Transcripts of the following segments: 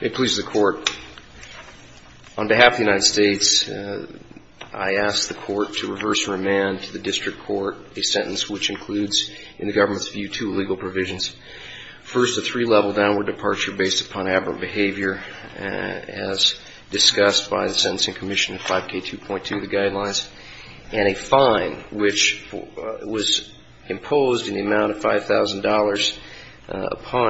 It pleases the court. On behalf of the United States, I ask the court to reverse remand to the district court a sentence which includes, in the government's view, two legal provisions. First, a three-level downward departure based upon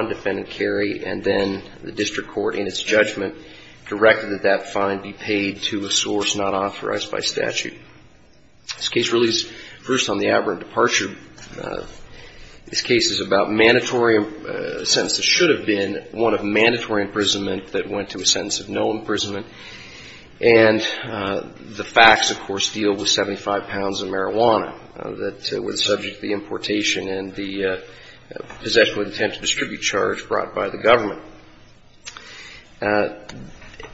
defendant Carey and then the district court, in its judgment, directed that that fine be paid to a source not authorized by statute. This case relieves, first, on the aberrant departure, this case is about mandatory sentences should have been one of mandatory imprisonment that went to a sentence of no imprisonment and the facts of course deal with 75 pounds of marijuana that were subject to the importation and the possession with the intent to distribute charges.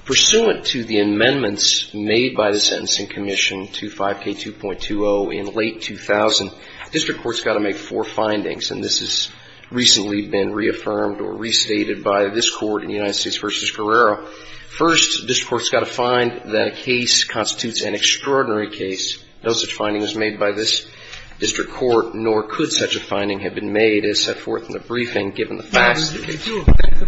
Pursuant to the amendments made by the Sentencing Commission to 5K2.20 in late 2000, district court's got to make four findings and this has recently been reaffirmed or restated by this court in United States v. Guerrero. First, district court's got to find that a case constitutes an extraordinary case. No such finding was made by this district court, nor could such a finding have been made as set forth in the briefing given the facts of the case. Did you object to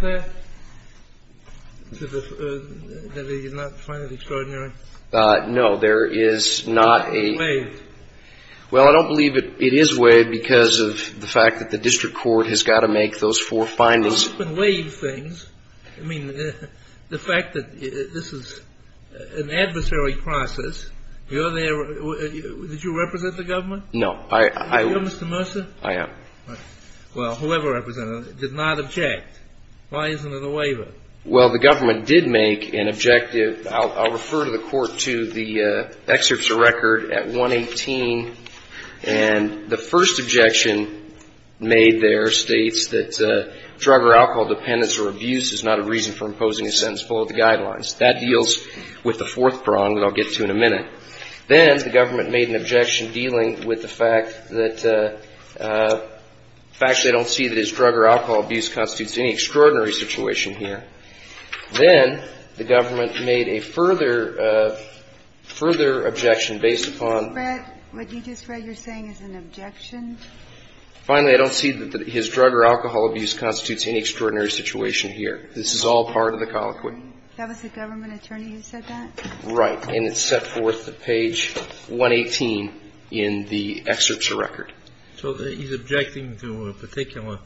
that, that they did not find it extraordinary? No, there is not a... It's not waived. Well, I don't believe it is waived because of the fact that the district court has got to make those four findings. I mean, the fact that this is an adversary process, you're there, did you represent the government? No, I... You're Mr. Mercer? I am. Well, whoever represented, did not object. Why isn't it a waiver? Well, the government did make an objective, I'll refer to the court to the excerpts of record at 118, and the first objection made there states that drug or alcohol dependence or abuse is not a reason for imposing a sentence below the guidelines. That deals with the fourth prong that I'll get to in a minute. Then the government made an objection dealing with the fact that, the fact that I don't see that his drug or alcohol abuse constitutes any extraordinary situation here. Then the government made a further objection based upon... What you just read, you're saying is an objection? Finally, I don't see that his drug or alcohol abuse constitutes any extraordinary situation here. This is all part of the colloquy. That was the government attorney who said that? Right, and it's set forth at page 118 in the excerpts of record. So he's objecting to a particular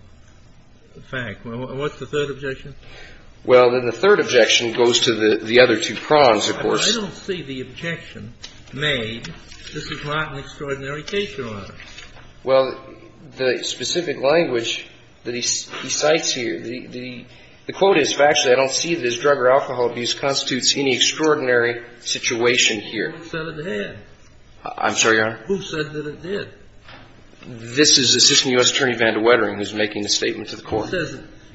fact. What's the third objection? Well, then the third objection goes to the other two prongs, of course. I don't see the objection made, this is not an extraordinary case you're on. Well, the specific language that he cites here, the quote is, factually, I don't see that his drug or alcohol abuse constitutes any extraordinary situation here. Who said it did? I'm sorry, Your Honor? Who said that it did? This is Assistant U.S. Attorney Vanda Wettering who's making a statement to the Court.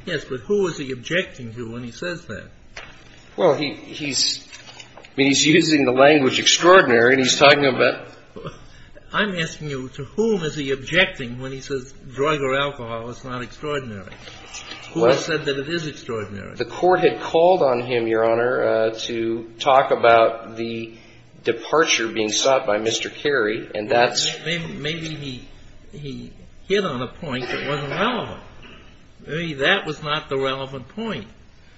Yes, but who is he objecting to when he says that? Well, he's using the language extraordinary and he's talking about... I'm asking you, to whom is he objecting when he says drug or alcohol is not extraordinary? Who has said that it is extraordinary? The Court had called on him, Your Honor, to talk about the departure being sought by Mr. Carey and that's... Maybe he hit on a point that wasn't relevant. Maybe that was not the relevant point.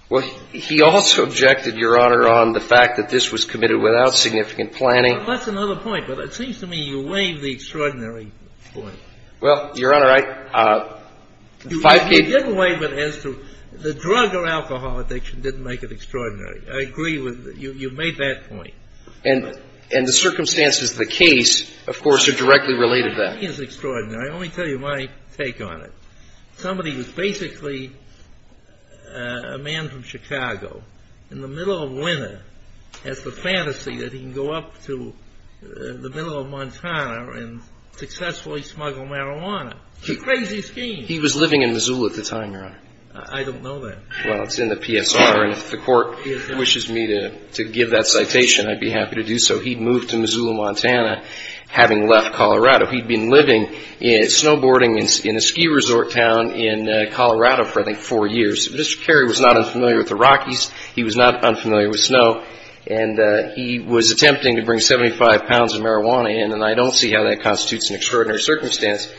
Well, he also objected, Your Honor, on the fact that this was committed without significant planning. That's another point, but it seems to me you waive the extraordinary point. Well, Your Honor, I... You didn't waive it as to the drug or alcohol addiction didn't make it extraordinary. I agree with you. You made that point. And the circumstances of the case, of course, are directly related to that. I think it's extraordinary. I'll only tell you my take on it. Somebody was basically a man from Chicago in the middle of winter has the fantasy that he can go up to the middle of Montana and successfully smuggle marijuana. It's a crazy scheme. He was living in Missoula at the time, Your Honor. I don't know that. Well, it's in the PSR and if the Court wishes me to give that citation, I'd be happy to do so. He'd moved to Missoula, Montana, having left Colorado. He'd been living, snowboarding in a ski resort town in Colorado for, I think, four years. Mr. Carey was not unfamiliar with the Rockies. He was not unfamiliar with snow. And he was attempting to bring 75 pounds of marijuana in, and I don't see how that constitutes an extraordinary circumstance.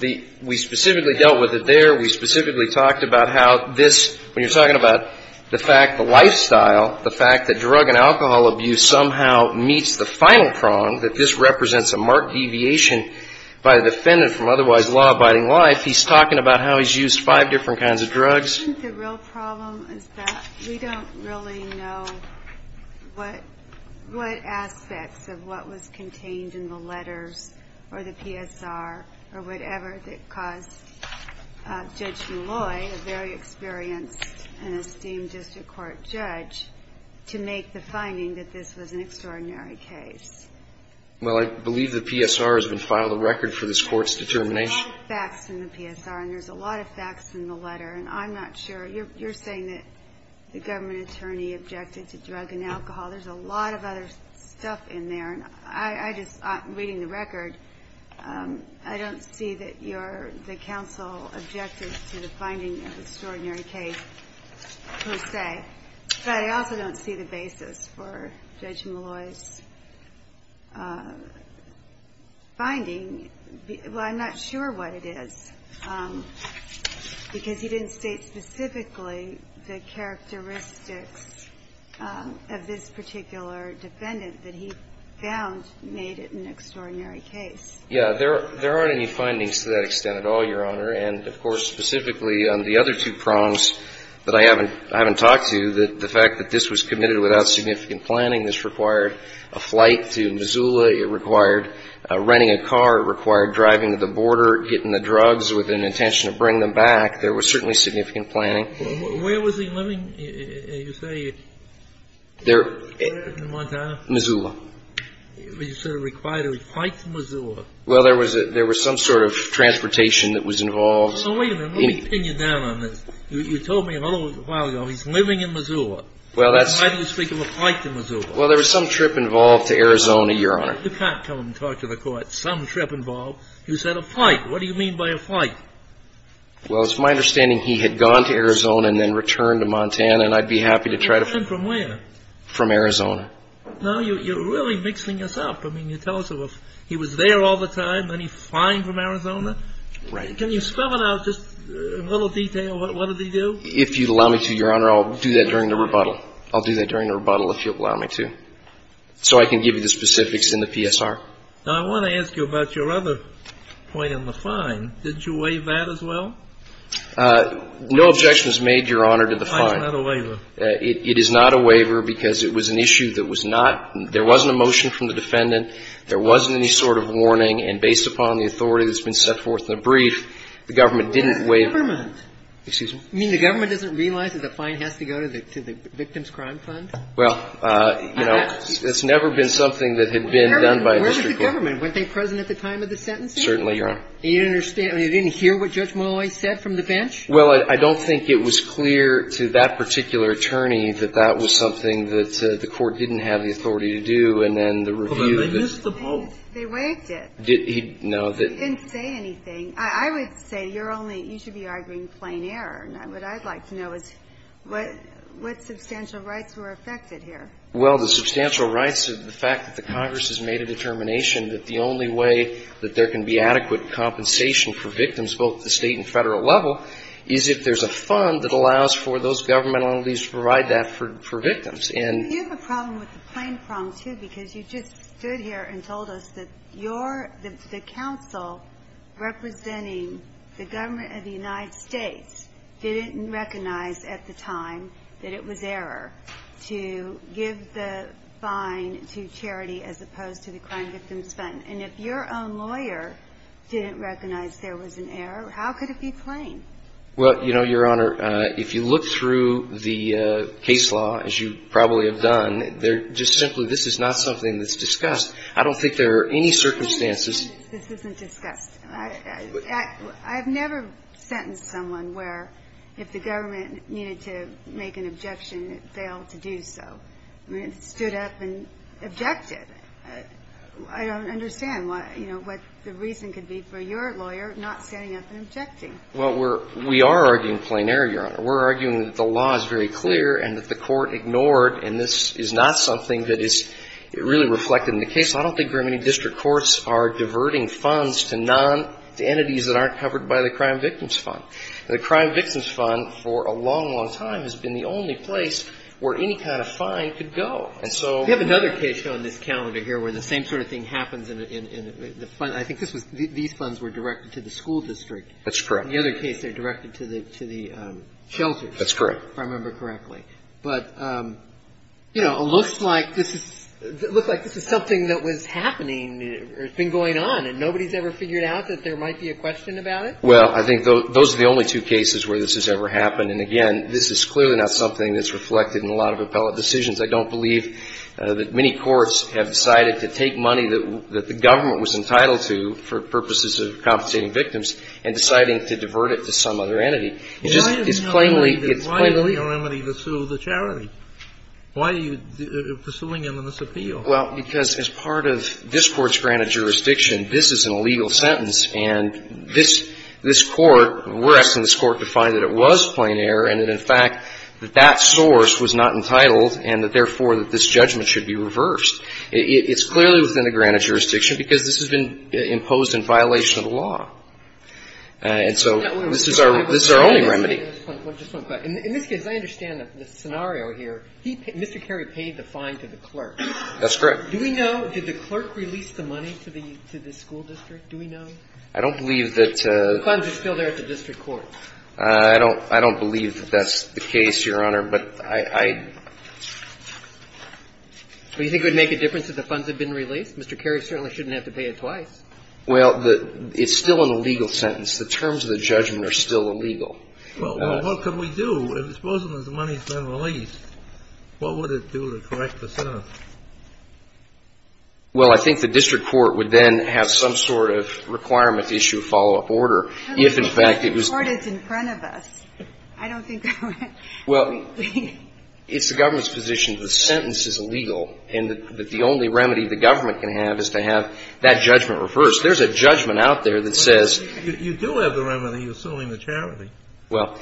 We specifically dealt with it there. We specifically talked about how this, when you're talking about the fact, the lifestyle, the fact that drug and alcohol abuse somehow meets the final prong, that this represents a marked deviation by the defendant from otherwise law-abiding life. He's talking about how he's used five different kinds of drugs. I think the real problem is that we don't really know what aspects of what was contained in the letters or the PSR or whatever that caused Judge Deloy, a very experienced and esteemed district court judge, to make the finding that this was an extraordinary case. Well, I believe the PSR has been filed a record for this Court's determination. There's a lot of facts in the PSR, and there's a lot of facts in the letter. And I'm not sure. You're saying that the government attorney objected to drug and alcohol. There's a lot of other stuff in there. Reading the record, I don't see that the counsel objected to the finding of the extraordinary case per se. But I also don't see the basis for Judge Molloy's finding. Well, I'm not sure what it is, because he didn't state specifically the characteristics of this particular defendant that he found made it an extraordinary case. Yeah. There aren't any findings to that extent at all, Your Honor. And, of course, specifically on the other two prongs that I haven't talked to, the fact that this was committed without significant planning, this required a flight to Missoula. It required renting a car. It required driving to the border, getting the drugs with an intention to bring them back. There was certainly significant planning. Where was he living, you say, in Montana? Missoula. But you said it required a flight to Missoula. Well, there was some sort of transportation that was involved. Well, wait a minute. Let me pin you down on this. You told me a little while ago he's living in Missoula. Well, that's Well, there was some trip involved to Arizona, Your Honor. You can't come and talk to the court. Some trip involved. You said a flight. What do you mean by a flight? Well, it's my understanding he had gone to Arizona and then returned to Montana, and I'd be happy to try to Return from where? From Arizona. No, you're really mixing this up. I mean, you tell us he was there all the time, then he's flying from Arizona. Right. Can you spell it out just a little detail? What did he do? If you'd allow me to, Your Honor, I'll do that during the rebuttal. I'll do that during the rebuttal if you'll allow me to, so I can give you the specifics in the PSR. Now, I want to ask you about your other point on the fine. Did you waive that as well? No objection was made, Your Honor, to the fine. The fine's not a waiver. It is not a waiver because it was an issue that was not – there wasn't a motion from the defendant. There wasn't any sort of warning, and based upon the authority that's been set forth in the brief, the government didn't waive Where's the government? Excuse me? I mean, the government doesn't realize that the fine has to go to the Victim's Crime Fund? Well, you know, it's never been something that had been done by a district court. Where's the government? Weren't they present at the time of the sentencing? Certainly, Your Honor. And you didn't hear what Judge Molloy said from the bench? Well, I don't think it was clear to that particular attorney that that was something that the court didn't have the authority to do, and then the review – Well, then they missed the point. They waived it. No. They didn't say anything. I would say you're only – you should be arguing plain error. What I'd like to know is what substantial rights were affected here? Well, the substantial rights of the fact that the Congress has made a determination that the only way that there can be adequate compensation for victims, both at the State and Federal level, is if there's a fund that allows for those governmental entities to provide that for victims. Well, you have a problem with the plain problem, too, because you just stood here and told us that the counsel representing the government of the United States didn't recognize at the time that it was error to give the fine to charity as opposed to the crime victims spent. And if your own lawyer didn't recognize there was an error, how could it be plain? Well, you know, Your Honor, if you look through the case law, as you probably have done, they're just simply this is not something that's discussed. I don't think there are any circumstances – This isn't discussed. I've never sentenced someone where if the government needed to make an objection, it failed to do so. I mean, it stood up and objected. I don't understand, you know, what the reason could be for your lawyer not standing up and objecting. Well, we're – we are arguing plain error, Your Honor. We're arguing that the law is very clear and that the court ignored and this is not something that is really reflected in the case. I don't think there are any district courts are diverting funds to non – to entities that aren't covered by the crime victims fund. The crime victims fund for a long, long time has been the only place where any kind of fine could go. And so – We have another case on this calendar here where the same sort of thing happens in the fund. I think this was – these funds were directed to the school district. In the other case, they're directed to the – to the shelters. That's correct. If I remember correctly. But, you know, it looks like this is – it looks like this is something that was happening or has been going on and nobody's ever figured out that there might be a question about it? Well, I think those are the only two cases where this has ever happened. And, again, this is clearly not something that's reflected in a lot of appellate decisions. I don't believe that many courts have decided to take money that the government was entitled to for purposes of compensating victims and deciding to divert it to some other entity. It's just – it's plainly – it's plainly – Why is no remedy to sue the charity? Why are you pursuing a misappeal? Well, because as part of this Court's granted jurisdiction, this is an illegal sentence, and this – this Court – we're asking this Court to find that it was plain error and that, in fact, that that source was not entitled and that, therefore, that this judgment should be reversed. It's clearly within the granted jurisdiction because this has been imposed in violation of the law. And so this is our – this is our only remedy. Just one question. In this case, I understand the scenario here. Mr. Carey paid the fine to the clerk. That's correct. Do we know – did the clerk release the money to the school district? Do we know? I don't believe that – The funds are still there at the district court. I don't – I don't believe that that's the case, Your Honor, but I – Well, you think it would make a difference if the funds had been released? Mr. Carey certainly shouldn't have to pay it twice. Well, the – it's still an illegal sentence. The terms of the judgment are still illegal. Well, what can we do? Suppose the money's been released. What would it do to correct the sentence? Well, I think the district court would then have some sort of requirement to issue a follow-up order if, in fact, it was – I don't think that would – Well, it's the government's position that the sentence is illegal and that the only remedy the government can have is to have that judgment reversed. There's a judgment out there that says – You do have the remedy of suing the charity. Well,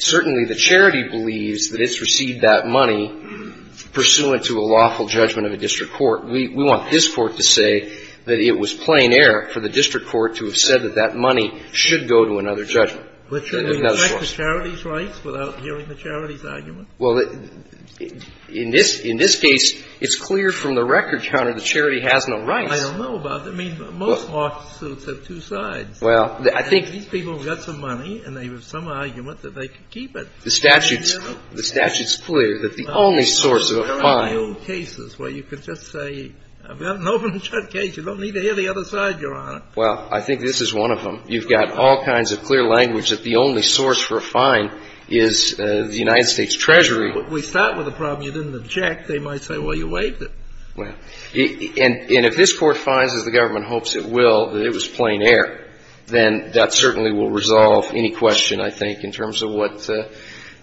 certainly the charity believes that it's received that money pursuant to a lawful judgment of a district court. We want this court to say that it was plain error for the district court to have said that that money should go to another judgment. But shouldn't we go back to charity's rights without hearing the charity's argument? Well, in this – in this case, it's clear from the record counter the charity has no rights. I don't know about that. I mean, most lawsuits have two sides. Well, I think – These people have got some money and they have some argument that they can keep it. The statute's – the statute's clear that the only source of a fine – There are no cases where you can just say, I've got an open and shut case. You don't need to hear the other side, Your Honor. Well, I think this is one of them. You've got all kinds of clear language that the only source for a fine is the United States Treasury. If we start with a problem you didn't object, they might say, well, you waived it. Well, and if this Court finds, as the government hopes it will, that it was plain error, then that certainly will resolve any question, I think, in terms of what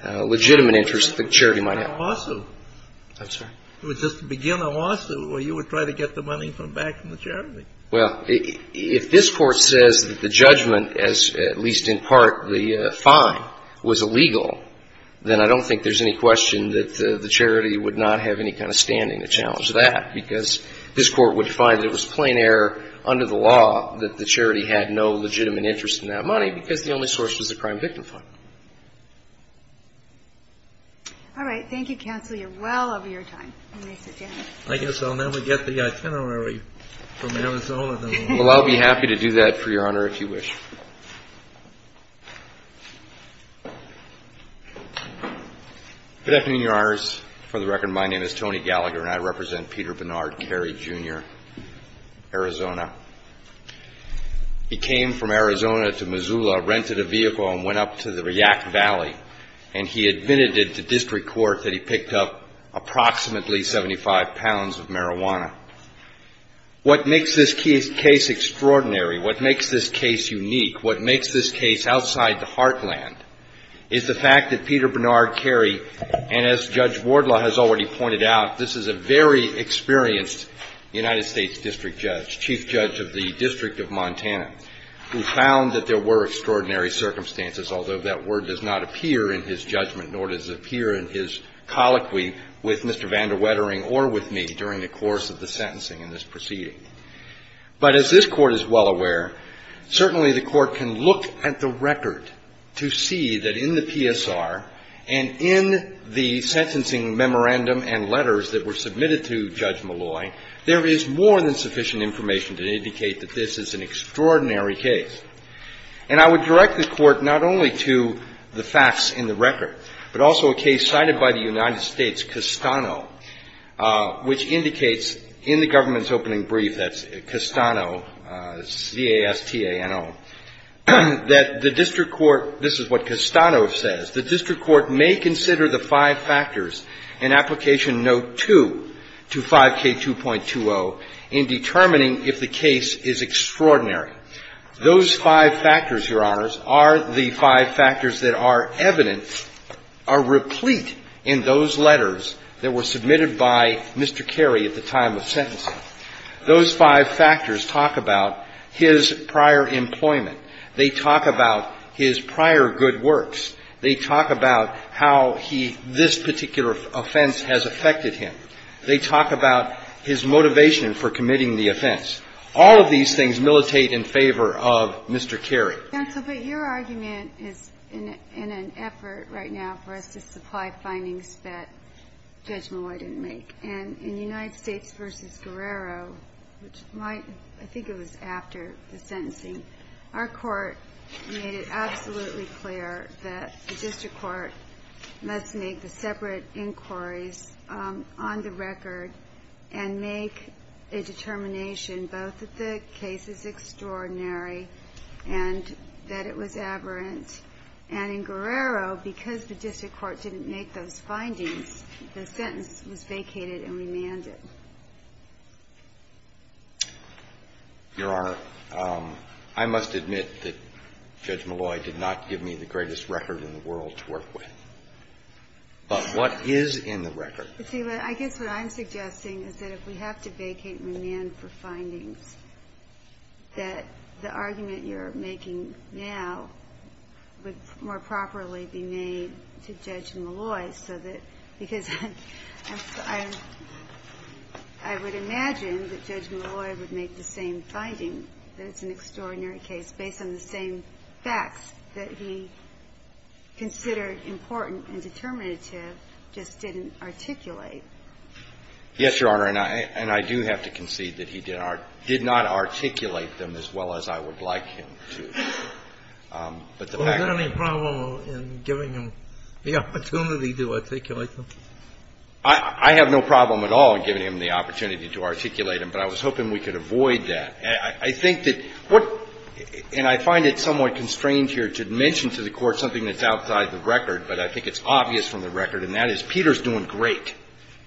legitimate interest the charity might have. It would just begin a lawsuit. I'm sorry? It would just begin a lawsuit where you would try to get the money from back from the charity. Well, if this Court says that the judgment, as at least in part the fine, was illegal, then I don't think there's any question that the charity would not have any kind of standing to challenge that, because this Court would find that it was plain error under the law that the charity had no legitimate interest in that money because the only source was the crime victim fine. All right. Thank you, counsel. You're well over your time. Mr. Daniels. I guess I'll never get the itinerary from Arizona. Well, I'll be happy to do that for Your Honor, if you wish. Good afternoon, Your Honors. For the record, my name is Tony Gallagher, and I represent Peter Bernard Carey, Jr., Arizona. He came from Arizona to Missoula, rented a vehicle, and went up to the Riyak Valley, and he admitted to district court that he picked up approximately 75 pounds of marijuana. What makes this case extraordinary, what makes this case unique, what makes this case outside the heartland, is the fact that Peter Bernard Carey, and as Judge Wardlaw has already pointed out, this is a very experienced United States district judge, chief judge of the District of Montana, who found that there were extraordinary circumstances, although that word does not appear in his judgment, nor does it appear in his colloquy with Mr. Vander Wettering or with me during the course of the sentencing in this proceeding. But as this Court is well aware, certainly the Court can look at the record to see that in the PSR and in the sentencing memorandum and letters that were submitted to Judge Malloy, there is more than sufficient information to indicate that this is an extraordinary case. And I would direct the Court not only to the facts in the record, but also a case cited by the United States, Castano, which indicates in the government's opening brief, that's Castano, C-A-S-T-A-N-O, that the district court, this is what Castano says, the district court may consider the five factors in Application Note 2 to 5K2.20 in determining if the case is extraordinary. Those five factors, Your Honors, are the five factors that are evident, are replete in those letters that were submitted by Mr. Carey at the time of sentencing. Those five factors talk about his prior employment. They talk about his prior good works. They talk about how he, this particular offense has affected him. They talk about his motivation for committing the offense. All of these things militate in favor of Mr. Carey. Ginsburg, your argument is in an effort right now for us to supply findings that Judge Malloy didn't make. And in United States v. Guerrero, which might, I think it was after the sentencing, our court made it absolutely clear that the district court must make the separate inquiries on the record and make a determination both that the case is extraordinary and that it was aberrant. And in Guerrero, because the district court didn't make those findings, the sentence was vacated and remanded. Your Honor, I must admit that Judge Malloy did not give me the greatest record in the world to work with. But what is in the record? See, I guess what I'm suggesting is that if we have to vacate remand for findings, that the argument you're making now would more properly be made to Judge Malloy, because I would imagine that Judge Malloy would make the same finding that it's an extraordinary case based on the same facts that he considered important and determinative, just didn't articulate. Yes, Your Honor. And I do have to concede that he did not articulate them as well as I would like him to articulate them. Was there any problem in giving him the opportunity to articulate them? I have no problem at all in giving him the opportunity to articulate them, but I was hoping we could avoid that. I think that what — and I find it somewhat constrained here to mention to the Court something that's outside the record, but I think it's obvious from the record, and that is Peter's doing great.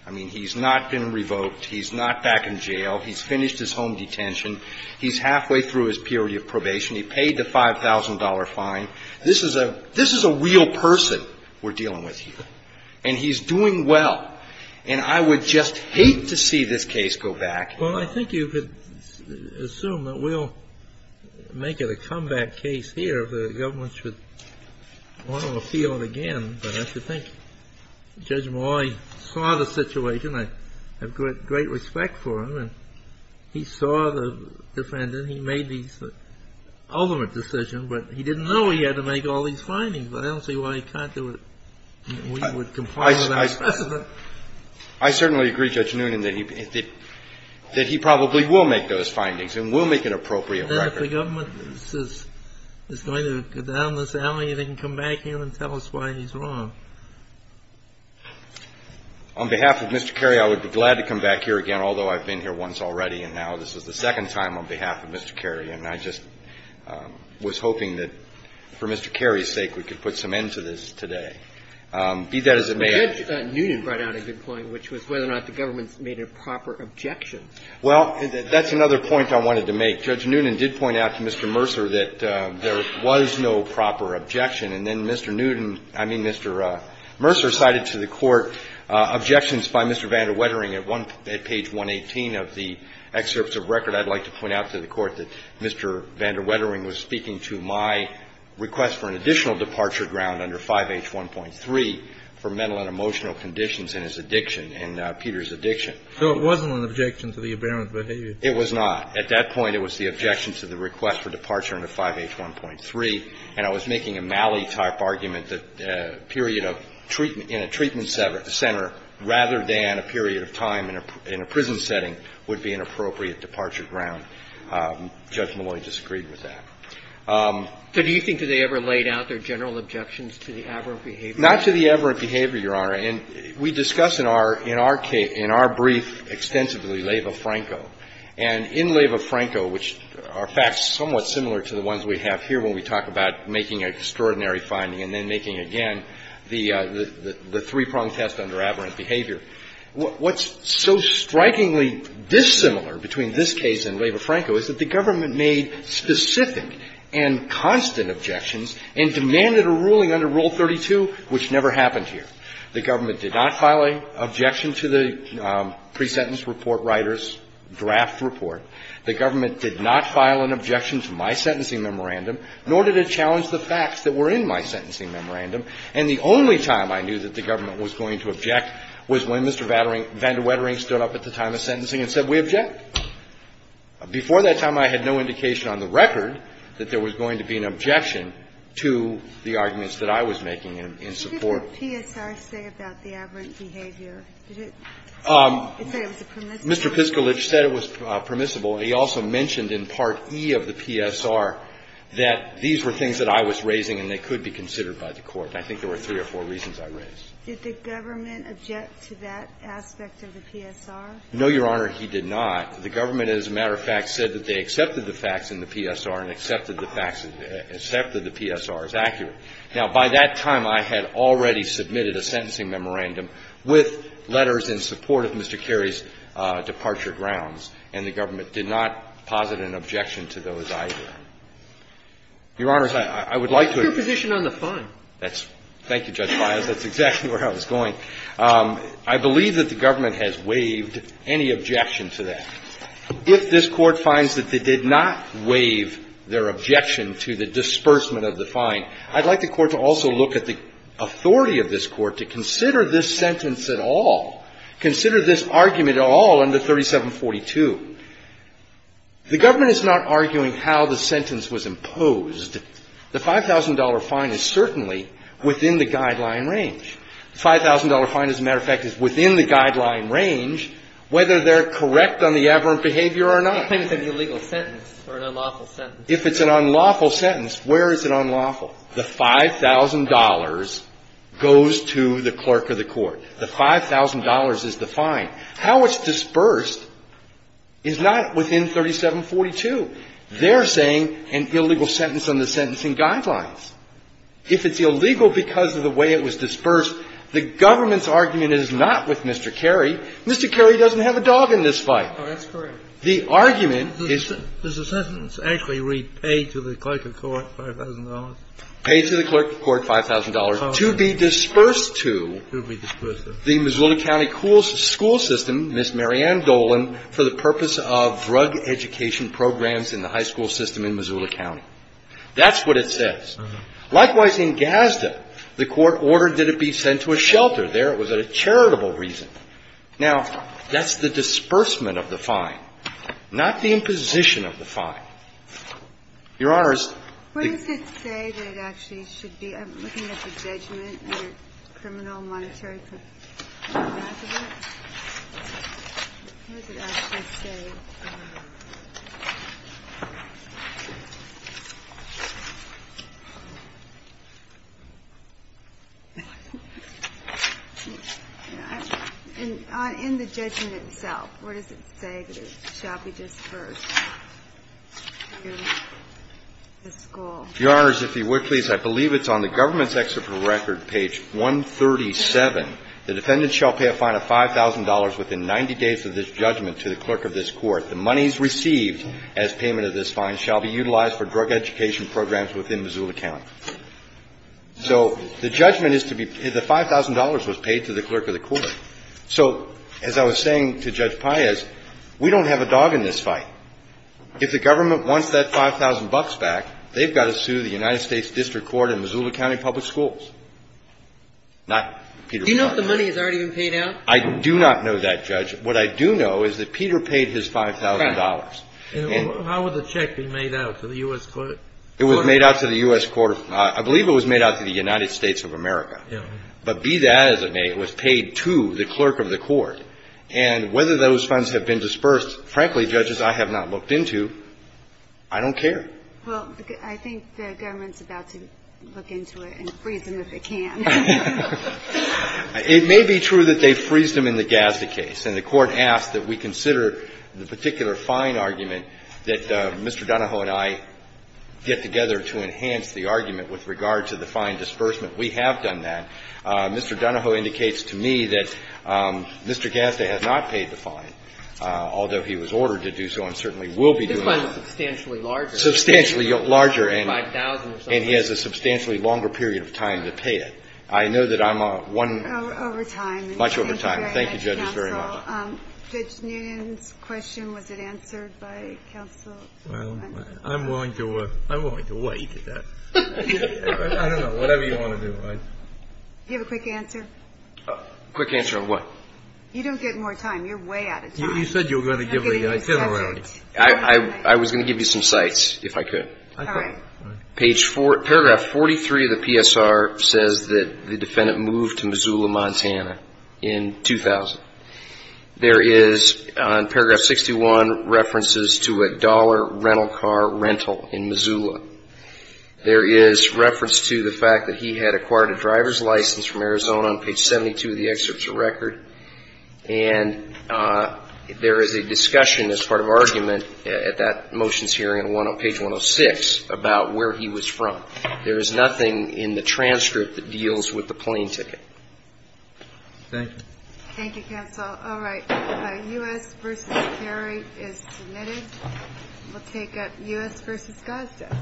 I mean, he's not been revoked. He's not back in jail. He's halfway through his period of probation. He paid the $5,000 fine. This is a real person we're dealing with here. And he's doing well. And I would just hate to see this case go back. Well, I think you could assume that we'll make it a comeback case here. The government should want to appeal it again, but I think Judge Malloy saw the situation. I have great respect for him. He saw the defendant. He made the ultimate decision, but he didn't know he had to make all these findings. I don't see why he can't do it. We would comply with our precedent. I certainly agree, Judge Noonan, that he probably will make those findings and will make an appropriate record. And if the government is going to go down this alley, they can come back here and tell us why he's wrong. On behalf of Mr. Cary, I would be glad to come back here again, although I've been here once already, and now this is the second time on behalf of Mr. Cary. And I just was hoping that, for Mr. Cary's sake, we could put some end to this today. Be that as it may — But Judge Noonan brought out a good point, which was whether or not the government made a proper objection. Well, that's another point I wanted to make. Judge Noonan did point out to Mr. Mercer that there was no proper objection. And then Mr. Newton — I mean, Mr. Mercer cited to the Court objections by Mr. Van der Wettering at page 118 of the excerpts of record. I'd like to point out to the Court that Mr. Van der Wettering was speaking to my request for an additional departure ground under 5H1.3 for mental and emotional conditions and his addiction and Peter's addiction. So it wasn't an objection to the aberrant behavior? It was not. At that point, it was the objection to the request for departure under 5H1.3. And I was making a Malley-type argument that a period of treatment in a treatment center rather than a period of time in a prison setting would be an appropriate departure ground. Judge Malloy disagreed with that. So do you think that they ever laid out their general objections to the aberrant behavior? Not to the aberrant behavior, Your Honor. And we discuss in our brief extensively Leyva-Franco. And in Leyva-Franco, which are facts somewhat similar to the ones we have here when we talk about making an extraordinary finding and then making again the three-prong test under aberrant behavior, what's so strikingly dissimilar between this case and Leyva-Franco is that the government made specific and constant objections and demanded a ruling under Rule 32, which never happened here. The government did not file an objection to the pre-sentence report writers, draft report. The government did not file an objection to my sentencing memorandum, nor did it challenge the facts that were in my sentencing memorandum. And the only time I knew that the government was going to object was when Mr. Vander Wettering stood up at the time of sentencing and said, we object. Before that time, I had no indication on the record that there was going to be an objection to the arguments that I was making in support. What did the PSR say about the aberrant behavior? Did it say it was permissible? Mr. Piskulich said it was permissible. He also mentioned in Part E of the PSR that these were things that I was raising and they could be considered by the Court. And I think there were three or four reasons I raised. Did the government object to that aspect of the PSR? No, Your Honor. He did not. The government, as a matter of fact, said that they accepted the facts in the PSR and accepted the facts that they accepted the PSR as accurate. Now, by that time, I had already submitted a sentencing memorandum with letters in support of Mr. Carey's departure grounds. And the government did not posit an objection to those either. Your Honors, I would like to agree. What's your position on the fine? Thank you, Judge Files. That's exactly where I was going. I believe that the government has waived any objection to that. If this Court finds that they did not waive their objection to the disbursement of the fine, I'd like the Court to also look at the authority of this Court to consider this sentence at all, consider this argument at all under 3742. The government is not arguing how the sentence was imposed. The $5,000 fine is certainly within the guideline range. The $5,000 fine, as a matter of fact, is within the guideline range, whether they're correct on the aberrant behavior or not. They claim it's an illegal sentence or an unlawful sentence. If it's an unlawful sentence, where is it unlawful? The $5,000 goes to the clerk of the Court. The $5,000 is the fine. How it's dispersed is not within 3742. They're saying an illegal sentence on the sentencing guidelines. If it's illegal because of the way it was dispersed, the government's argument is not with Mr. Carey. Mr. Carey doesn't have a dog in this fight. Oh, that's correct. The argument is the sentence actually read, pay to the clerk of court $5,000. Pay to the clerk of court $5,000 to be dispersed to the Missoula County school system, Ms. Marianne Dolan, for the purpose of drug education programs in the high school system in Missoula County. That's what it says. Likewise, in Gazda, the Court ordered that it be sent to a shelter there. It was at a charitable reason. Now, that's the disbursement of the fine, not the imposition of the fine. Your Honors, the ---- In the judgment itself, what does it say that it shall be dispersed to the school? Your Honors, if you would, please. I believe it's on the government's excerpt from the record, page 137. The defendant shall pay a fine of $5,000 within 90 days of this judgment to the clerk of this court. The monies received as payment of this fine shall be utilized for drug education programs within Missoula County. So the judgment is to be ---- the $5,000 was paid to the clerk of the court. So, as I was saying to Judge Paez, we don't have a dog in this fight. If the government wants that $5,000 back, they've got to sue the United States District Court in Missoula County Public Schools, not Peter Paez. Do you know if the money has already been paid out? I do not know that, Judge. What I do know is that Peter paid his $5,000. And how would the check be made out to the U.S. Court? It was made out to the U.S. Court of ---- I believe it was made out to the United States of America. Yeah. But be that as it may, it was paid to the clerk of the court. And whether those funds have been dispersed, frankly, Judges, I have not looked into. I don't care. Well, I think the government's about to look into it and freeze them if it can. It may be true that they've freezed them in the Gazda case. And the Court asked that we consider the particular fine argument that Mr. Donahoe and I get together to enhance the argument with regard to the fine disbursement. We have done that. Mr. Donahoe indicates to me that Mr. Gazda has not paid the fine, although he was ordered to do so and certainly will be doing it. The fine is substantially larger. Substantially larger. $5,000 or something. And he has a substantially longer period of time to pay it. I know that I'm one ---- Over time. Much over time. Thank you, Judges, very much. Judge Newman's question, was it answered by counsel? I'm willing to wait. I don't know. Whatever you want to do. Do you have a quick answer? Quick answer on what? You don't get more time. You're way out of time. You said you were going to give me a generality. I was going to give you some sites, if I could. All right. Page 4, paragraph 43 of the PSR says that the defendant moved to Missoula, Montana, in 2000. There is, on paragraph 61, references to a dollar rental car rental in Missoula. There is reference to the fact that he had acquired a driver's license from Arizona on page 72 of the excerpts of record. And there is a discussion as part of argument at that motions hearing on page 106 about where he was from. There is nothing in the transcript that deals with the plane ticket. Thank you. Thank you, counsel. All right. U.S. v. Cary is submitted. We'll take U.S. v. Gosta.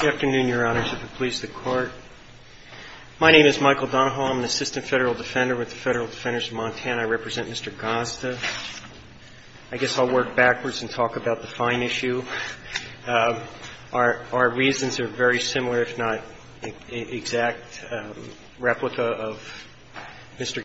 Good afternoon, Your Honors. If it pleases the Court, my name is Michael Donahoe. I'm an assistant federal defender with the Federal Defenders of Montana. I represent Mr. Gosta. I guess I'll work backwards and talk about the fine issue. Our reasons are very similar, if not exact. Replica of Mr. Gosta.